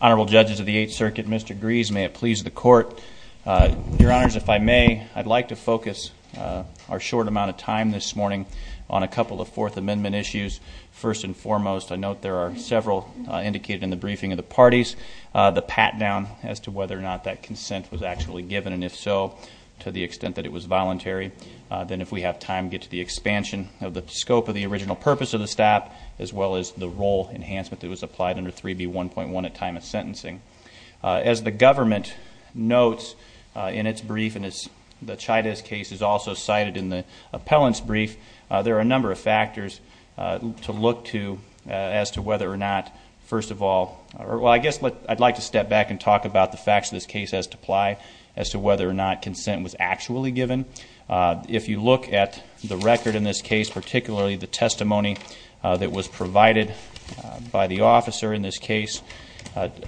Honorable Judges of the Eighth Circuit, Mr. Gries, may it please the Court, Your Honors, if I may, I'd like to focus our short amount of time this morning on a couple of Fourth Amendment issues. First and foremost, I note there are several indicated in the briefing of the parties, the pat-down as to whether or not that consent was actually given, and if so, to the extent that it was voluntary, then if we have time, get to the expansion of the scope of the original purpose of the stop, as well as the role enhancement that was applied under 3B1.1 at time of sentencing. As the government notes in its brief, and as the Chaidez case is also cited in the appellant's brief, there are a number of factors to look to as to whether or not, first of all, well, I guess I'd like to step back and talk about the facts of this case as to whether or not consent was actually given. If you look at the record in this case, particularly the testimony that was provided by the officer in this case,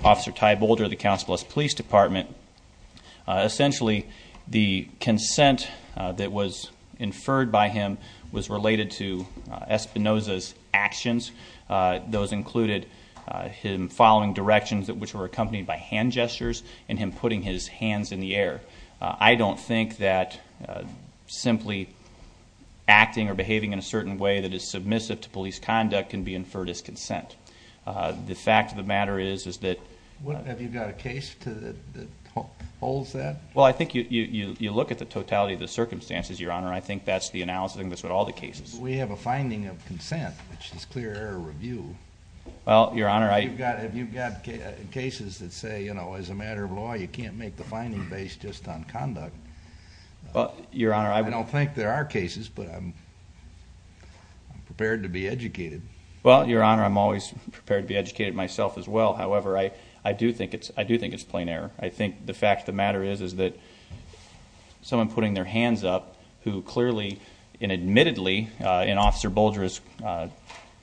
Officer Ty Boulder of the Council of the West Police Department, essentially the consent that was inferred by him was related to Espinoza's actions. Those included him following directions which were accompanied by hand gestures and him putting his hands in the air. I don't think that simply acting or behaving in a certain way that is submissive to police conduct can be inferred as consent. The fact of the matter is, is that... Have you got a case that holds that? Well, I think you look at the totality of the circumstances, Your Honor, and I think that's the analysis of all the cases. We have a finding of consent, which is clear error review. Well, Your Honor... Have you got cases that say, you know, as a matter of law, you can't make the finding based just on conduct? Your Honor, I... I don't think there are cases, but I'm prepared to be educated. Well, Your Honor, I'm always prepared to be educated myself as well. However, I do think it's plain error. I think the fact of the matter is that someone putting their hands up who clearly and admittedly in Officer Bulger's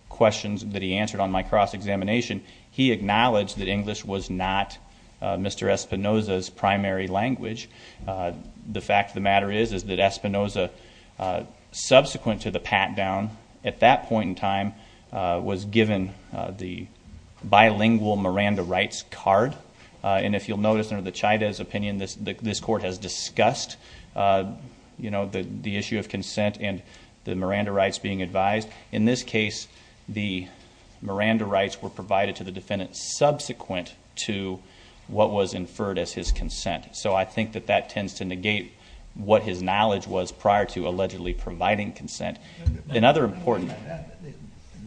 questions that he answered on my cross-examination, he acknowledged that English was not Mr. Espinoza's primary language. The fact of the matter is, is that Espinoza, subsequent to the pat-down, at that point in time was given the bilingual Miranda rights card. And if you'll notice under the Chaydez opinion, this court has discussed, you know, the issue of consent and the Miranda rights being advised. In this case, the Miranda rights were provided to the defendant subsequent to what was inferred as his consent. So I think that that tends to negate what his knowledge was prior to allegedly providing consent. Another important...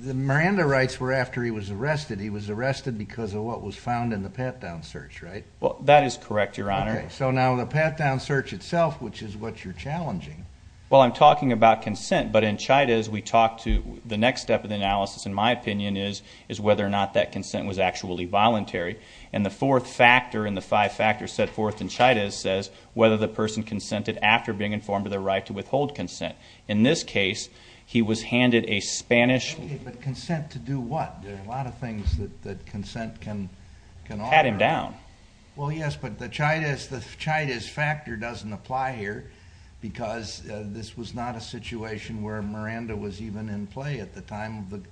The Miranda rights were after he was arrested. He was arrested because of what was found in the pat-down search, right? Well, that is correct, Your Honor. Okay. So now the pat-down search itself, which is what you're challenging... Well, I'm talking about consent. But in Chaydez, we talked to... the next step of the analysis, in my opinion, is whether or not that consent was actually voluntary. And the fourth factor in the five factors set forth in Chaydez says whether the person consented after being informed of their right to withhold consent. In this case, he was handed a Spanish... Okay, but consent to do what? There are a lot of things that consent can... Pat him down. Well, yes, but the Chaydez factor doesn't apply here because this was not a situation where Miranda was even in play at the time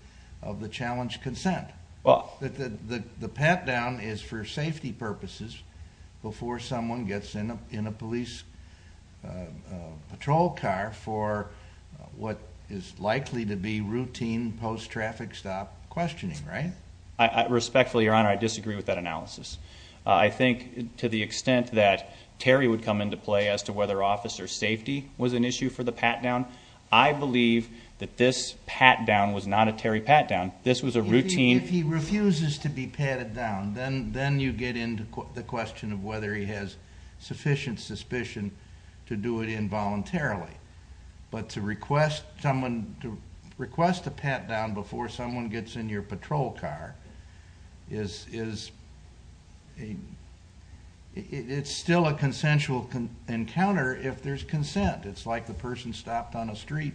of the challenged consent. The pat-down is for safety purposes before someone gets in a police patrol car for what is likely to be routine post-traffic stop questioning, right? Respectfully, Your Honor, I disagree with that analysis. I think to the extent that Terry would come into play as to whether officer safety was an issue for the pat-down, I believe that this pat-down was not a Terry pat-down. This was a routine... If he refuses to be patted down, then you get into the question of whether he has sufficient suspicion to do it involuntarily. But to request a pat-down before someone gets in your patrol car is... it's still a consensual encounter if there's consent. It's like the person stopped on a street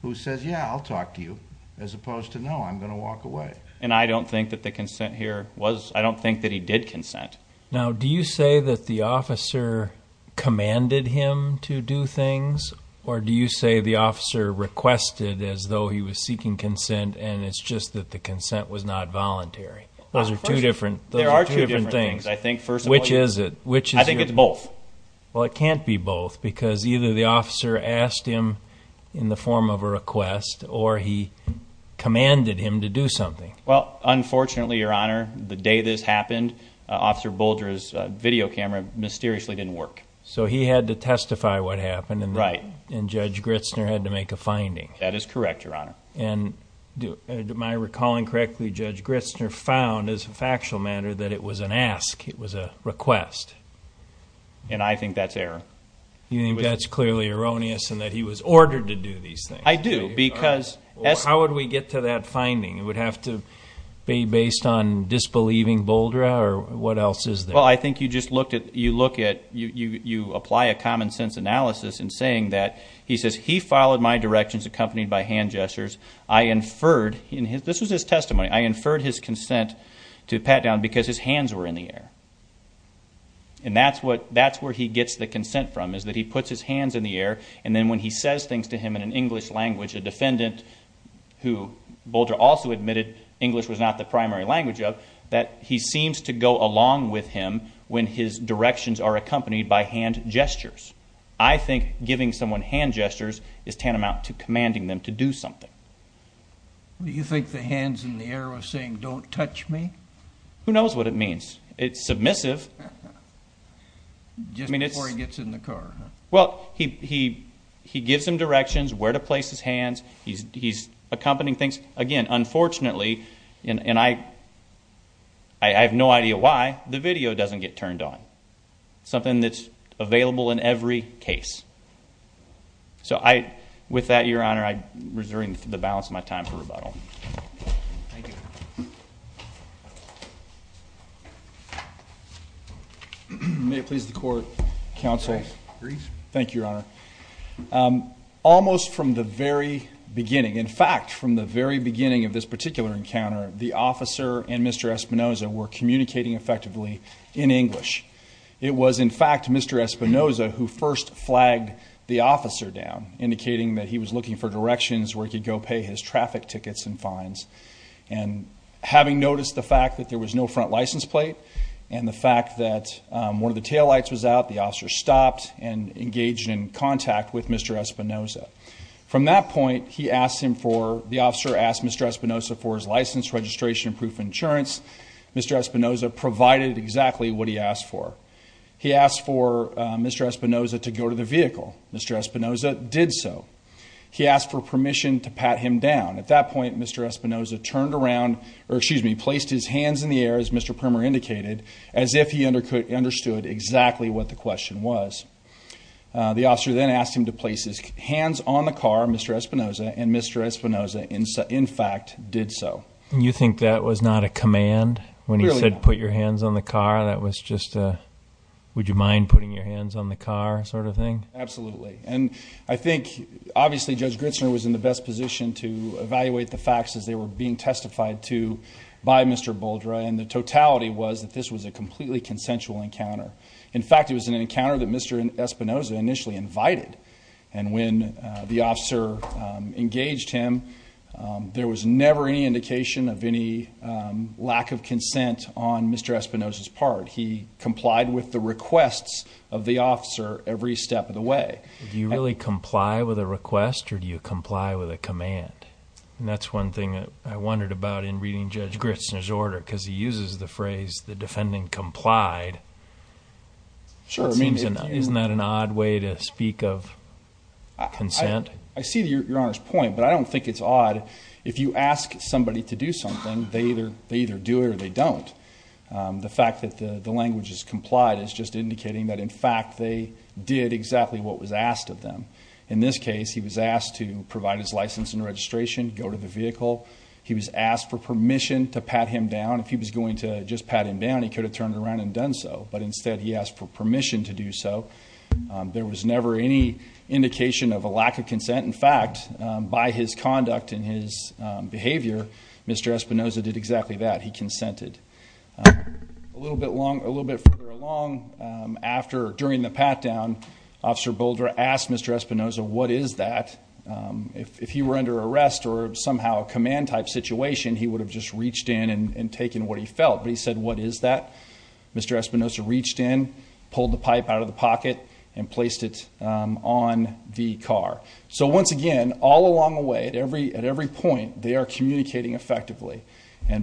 who says, yeah, I'll talk to you, as opposed to, no, I'm going to walk away. And I don't think that the consent here was... I don't think that he did consent. Now, do you say that the officer commanded him to do things, or do you say the officer requested as though he was seeking consent and it's just that the consent was not voluntary? Those are two different things. There are two different things, I think, first of all. Which is it? Which is it? I think it's both. Well, it can't be both because either the officer asked him in the form of a request or he commanded him to do something. Well, unfortunately, Your Honor, the day this happened, Officer Boulder's video camera mysteriously didn't work. So he had to testify what happened and Judge Gritzner had to make a finding. That is correct, Your Honor. And am I recalling correctly, Judge Gritzner found as a factual matter that it was an ask, it was a request. And I think that's error. You think that's clearly erroneous and that he was ordered to do these things? I do because... Based on disbelieving Boulder or what else is there? Well, I think you just looked at... you look at... you apply a common sense analysis in saying that he says he followed my directions accompanied by hand gestures. I inferred in his... this was his testimony. I inferred his consent to pat down because his hands were in the air. And that's what... that's where he gets the consent from is that he puts his hands in the air and then when he says things to him in an English language, a defendant who Boulder also admitted English was not the primary language of, that he seems to go along with him when his directions are accompanied by hand gestures. I think giving someone hand gestures is tantamount to commanding them to do something. Do you think the hands in the air was saying, don't touch me? Who knows what it means. It's submissive. Just before he gets in the car, huh? Well, he gives him directions where to place his hands. He's accompanying things. Again, unfortunately, and I have no idea why, the video doesn't get turned on. Something that's available in every case. So I... with that, Your Honor, I'm reserving the balance of my time for rebuttal. Thank you. May it please the Court, Counsel. Please. Thank you, Your Honor. Almost from the very beginning, in fact, from the very beginning of this particular encounter, the officer and Mr. Espinoza were communicating effectively in English. It was, in fact, Mr. Espinoza who first flagged the officer down, indicating that he was looking for directions where he could go pay his traffic tickets and fines. And having noticed the fact that there was no front license plate, and the fact that one of the taillights was out, the officer stopped and engaged in contact with Mr. Espinoza. From that point, he asked him for... the officer asked Mr. Espinoza for his license, registration, and proof of insurance. Mr. Espinoza provided exactly what he asked for. He asked for Mr. Espinoza to go to the vehicle. Mr. Espinoza did so. He asked for permission to pat him down. At that point, Mr. Espinoza turned around... or, excuse me, placed his hands in the car. He understood exactly what the question was. The officer then asked him to place his hands on the car. Mr. Espinoza and Mr. Espinoza, in fact, did so. You think that was not a command when he said, put your hands on the car? That was just a, would you mind putting your hands on the car sort of thing? Absolutely. And I think, obviously, Judge Gritzner was in the best position to evaluate the facts as they were being testified to by Mr. Boldra, and the totality was that this was a completely consensual encounter. In fact, it was an encounter that Mr. Espinoza initially invited. And when the officer engaged him, there was never any indication of any lack of consent on Mr. Espinoza's part. He complied with the requests of the officer every step of the way. Do you really comply with a request, or do you comply with a command? That's one thing I wondered about in reading Judge Gritzner's order, because he uses the defendant complied. Sure. I mean, isn't that an odd way to speak of consent? I see your Honor's point, but I don't think it's odd. If you ask somebody to do something, they either do it or they don't. The fact that the language is complied is just indicating that, in fact, they did exactly what was asked of them. In this case, he was asked to provide his license and registration, go to the vehicle. He was asked for permission to pat him down. If he was going to just pat him down, he could have turned around and done so. But instead, he asked for permission to do so. There was never any indication of a lack of consent. In fact, by his conduct and his behavior, Mr. Espinoza did exactly that. He consented. A little bit further along, during the pat-down, Officer Boldre asked Mr. Espinoza, what is that? If he were under arrest or somehow a command-type situation, he would have just reached in and taken what he felt. But he said, what is that? Mr. Espinoza reached in, pulled the pipe out of the pocket, and placed it on the car. Once again, all along the way, at every point, they are communicating effectively.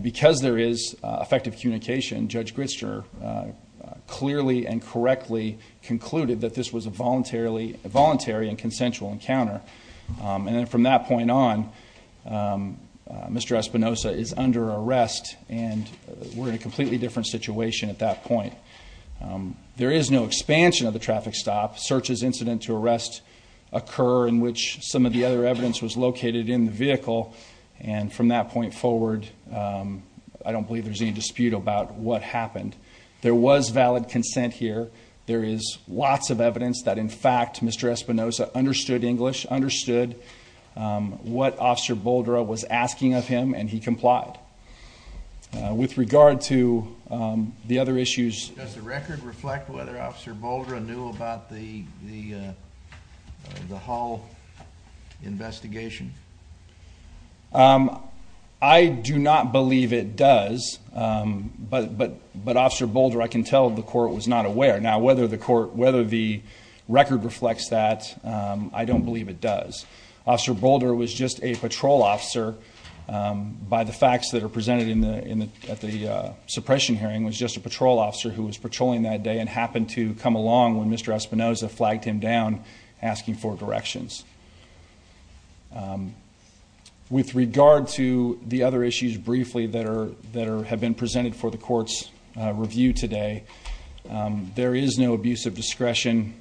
Because there is effective communication, Judge Gritzer clearly and correctly concluded that this was a voluntary and consensual encounter. And then from that point on, Mr. Espinoza is under arrest, and we're in a completely different situation at that point. There is no expansion of the traffic stop. Searches incident to arrest occur in which some of the other evidence was located in the vehicle. And from that point forward, I don't believe there's any dispute about what happened. There was valid consent here. There is lots of evidence that, in fact, Mr. Espinoza understood English, understood what Officer Boldre was asking of him, and he complied. With regard to the other issues— Does the record reflect whether Officer Boldre knew about the Hall investigation? I do not believe it does. But Officer Boldre, I can tell the court was not aware. Now, whether the record reflects that, I don't believe it does. Officer Boldre was just a patrol officer, by the facts that are presented at the suppression hearing, was just a patrol officer who was patrolling that day and happened to come along when Mr. Espinoza flagged him down asking for directions. With regard to the other issues, briefly, that have been presented for the Court's review today, there is no abuse of discretion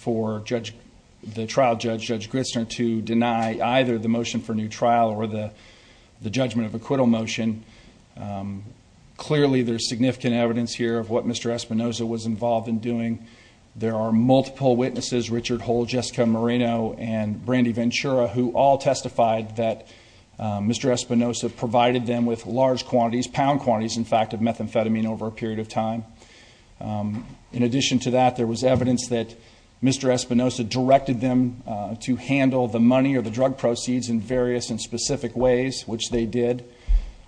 for the trial judge, Judge Gristner, to deny either the motion for new trial or the judgment of acquittal motion. Clearly, there's significant evidence here of what Mr. Espinoza was involved in doing. There are multiple witnesses—Richard Hull, Jessica Moreno, and Brandy Ventura—who all testified that Mr. Espinoza provided them with large quantities—pound quantities, in fact—of methamphetamine over a period of time. In addition to that, there was evidence that Mr. Espinoza directed them to handle the money or the drug proceeds in various and specific ways, which they did.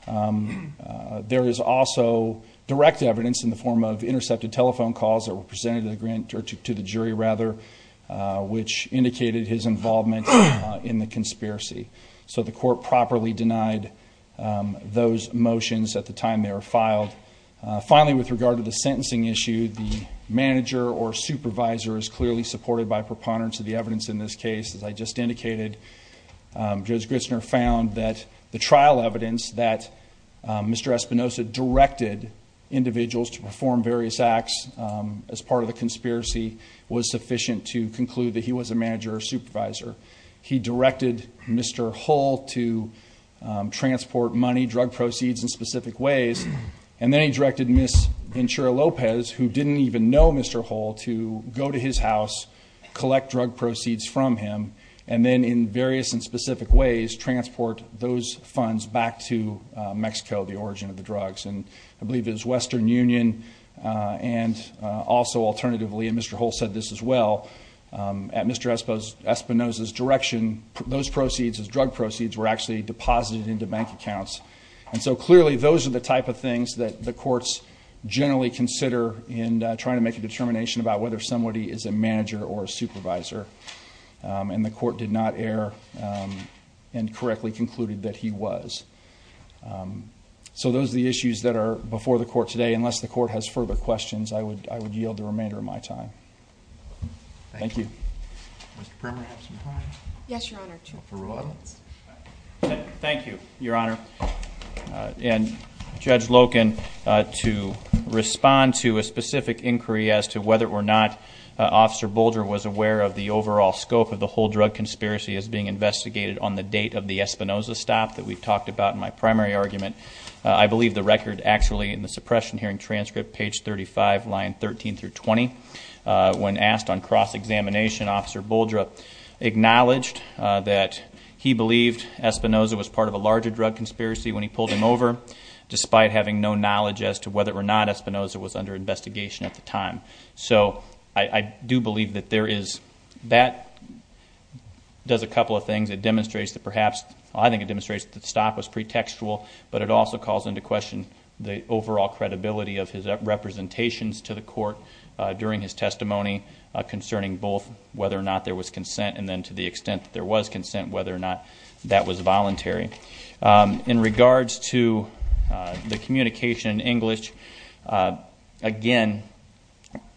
There is also direct evidence in the form of intercepted telephone calls that were presented to the jury, which indicated his involvement in the conspiracy. So the Court properly denied those motions at the time they were filed. Finally, with regard to the sentencing issue, the manager or supervisor is clearly supported by preponderance of the evidence in this case. As I just indicated, Judge Gristner found that the trial evidence that Mr. Espinoza directed individuals to perform various acts as part of the conspiracy was sufficient to conclude that he was a manager or supervisor. He directed Mr. Hull to transport money, drug proceeds, in specific ways, and then he directed Ms. Ventura Lopez, who didn't even know Mr. Hull, to go to his house, collect drug proceeds from him, and then in various and specific ways transport those funds back to Mexico, the origin of the drugs, and I believe it was Western Union and also, alternatively—and Mr. Espinoza's direction, those proceeds, those drug proceeds, were actually deposited into bank accounts, and so clearly those are the type of things that the courts generally consider in trying to make a determination about whether somebody is a manager or a supervisor, and the Court did not err and correctly concluded that he was. So those are the issues that are before the Court today. Unless the Court has further questions, I would yield the remainder of my time. Thank you. Mr. Primer, do you have some time? Yes, Your Honor. Thank you, Your Honor, and Judge Loken, to respond to a specific inquiry as to whether or not Officer Bolger was aware of the overall scope of the whole drug conspiracy as being investigated on the date of the Espinoza stop that we've talked about in my primary argument, I believe the record actually in the suppression hearing transcript, page 35, line 13-20, when asked on cross-examination, Officer Bolger acknowledged that he believed Espinoza was part of a larger drug conspiracy when he pulled him over, despite having no knowledge as to whether or not Espinoza was under investigation at the time. So I do believe that there is—that does a couple of things. It demonstrates that perhaps—well, I think it demonstrates that the stop was pretextual, but it also calls into question the overall credibility of his representations to the Court during his testimony concerning both whether or not there was consent and then to the extent that there was consent, whether or not that was voluntary. In regards to the communication in English, again,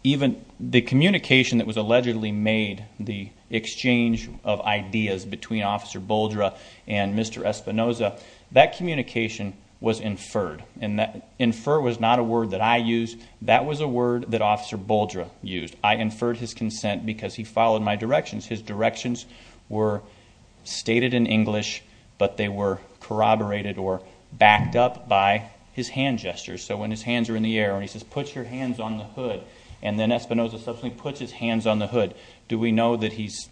even the communication that was allegedly made, the exchange of ideas between Officer Bolger and Mr. Espinoza, that communication was inferred. And infer was not a word that I used. That was a word that Officer Bolger used. I inferred his consent because he followed my directions. His directions were stated in English, but they were corroborated or backed up by his hand gestures. So when his hands are in the air and he says, put your hands on the hood, and then Espinoza subsequently puts his hands on the hood, do we know that he's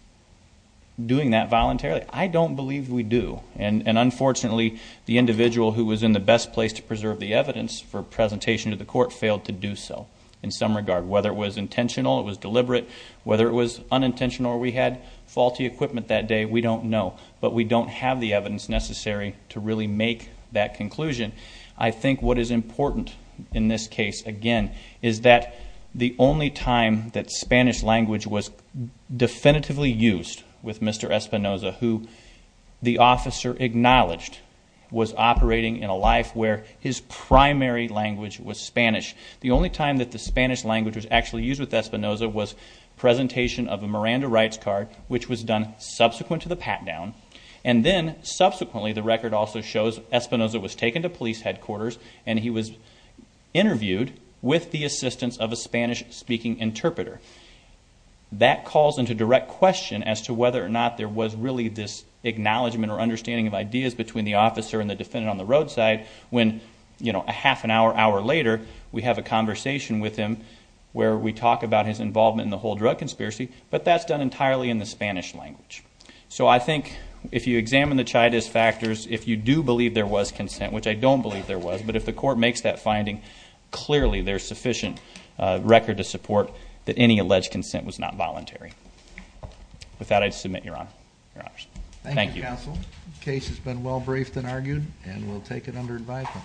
doing that voluntarily? I don't believe we do. And unfortunately, the individual who was in the best place to preserve the evidence for presentation to the Court failed to do so in some regard. Whether it was intentional, it was deliberate. Whether it was unintentional or we had faulty equipment that day, we don't know. But we don't have the evidence necessary to really make that conclusion. I think what is important in this case, again, is that the only time that Spanish language was definitively used with Mr. Espinoza, who the officer acknowledged was operating in a life where his primary language was Spanish, the only time that the Spanish language was actually used with Espinoza was presentation of a Miranda Rights card, which was done subsequent to the pat-down. And then, subsequently, the record also shows Espinoza was taken to police headquarters and he was interviewed with the assistance of a Spanish-speaking interpreter. That calls into direct question as to whether or not there was really this acknowledgment or understanding of ideas between the officer and the defendant on the roadside when, you know, a half an hour, hour later, we have a conversation with him where we talk about his involvement in the whole drug conspiracy, but that's done entirely in the Spanish language. So I think if you examine the Chaitis factors, if you do believe there was consent, which I don't believe there was, but if the court makes that finding, clearly there's sufficient record to support that any alleged consent was not voluntary. With that, I submit, Your Honor. Your Honors. Thank you. Thank you, Counsel. The case has been well briefed and argued, and we'll take it under advisement.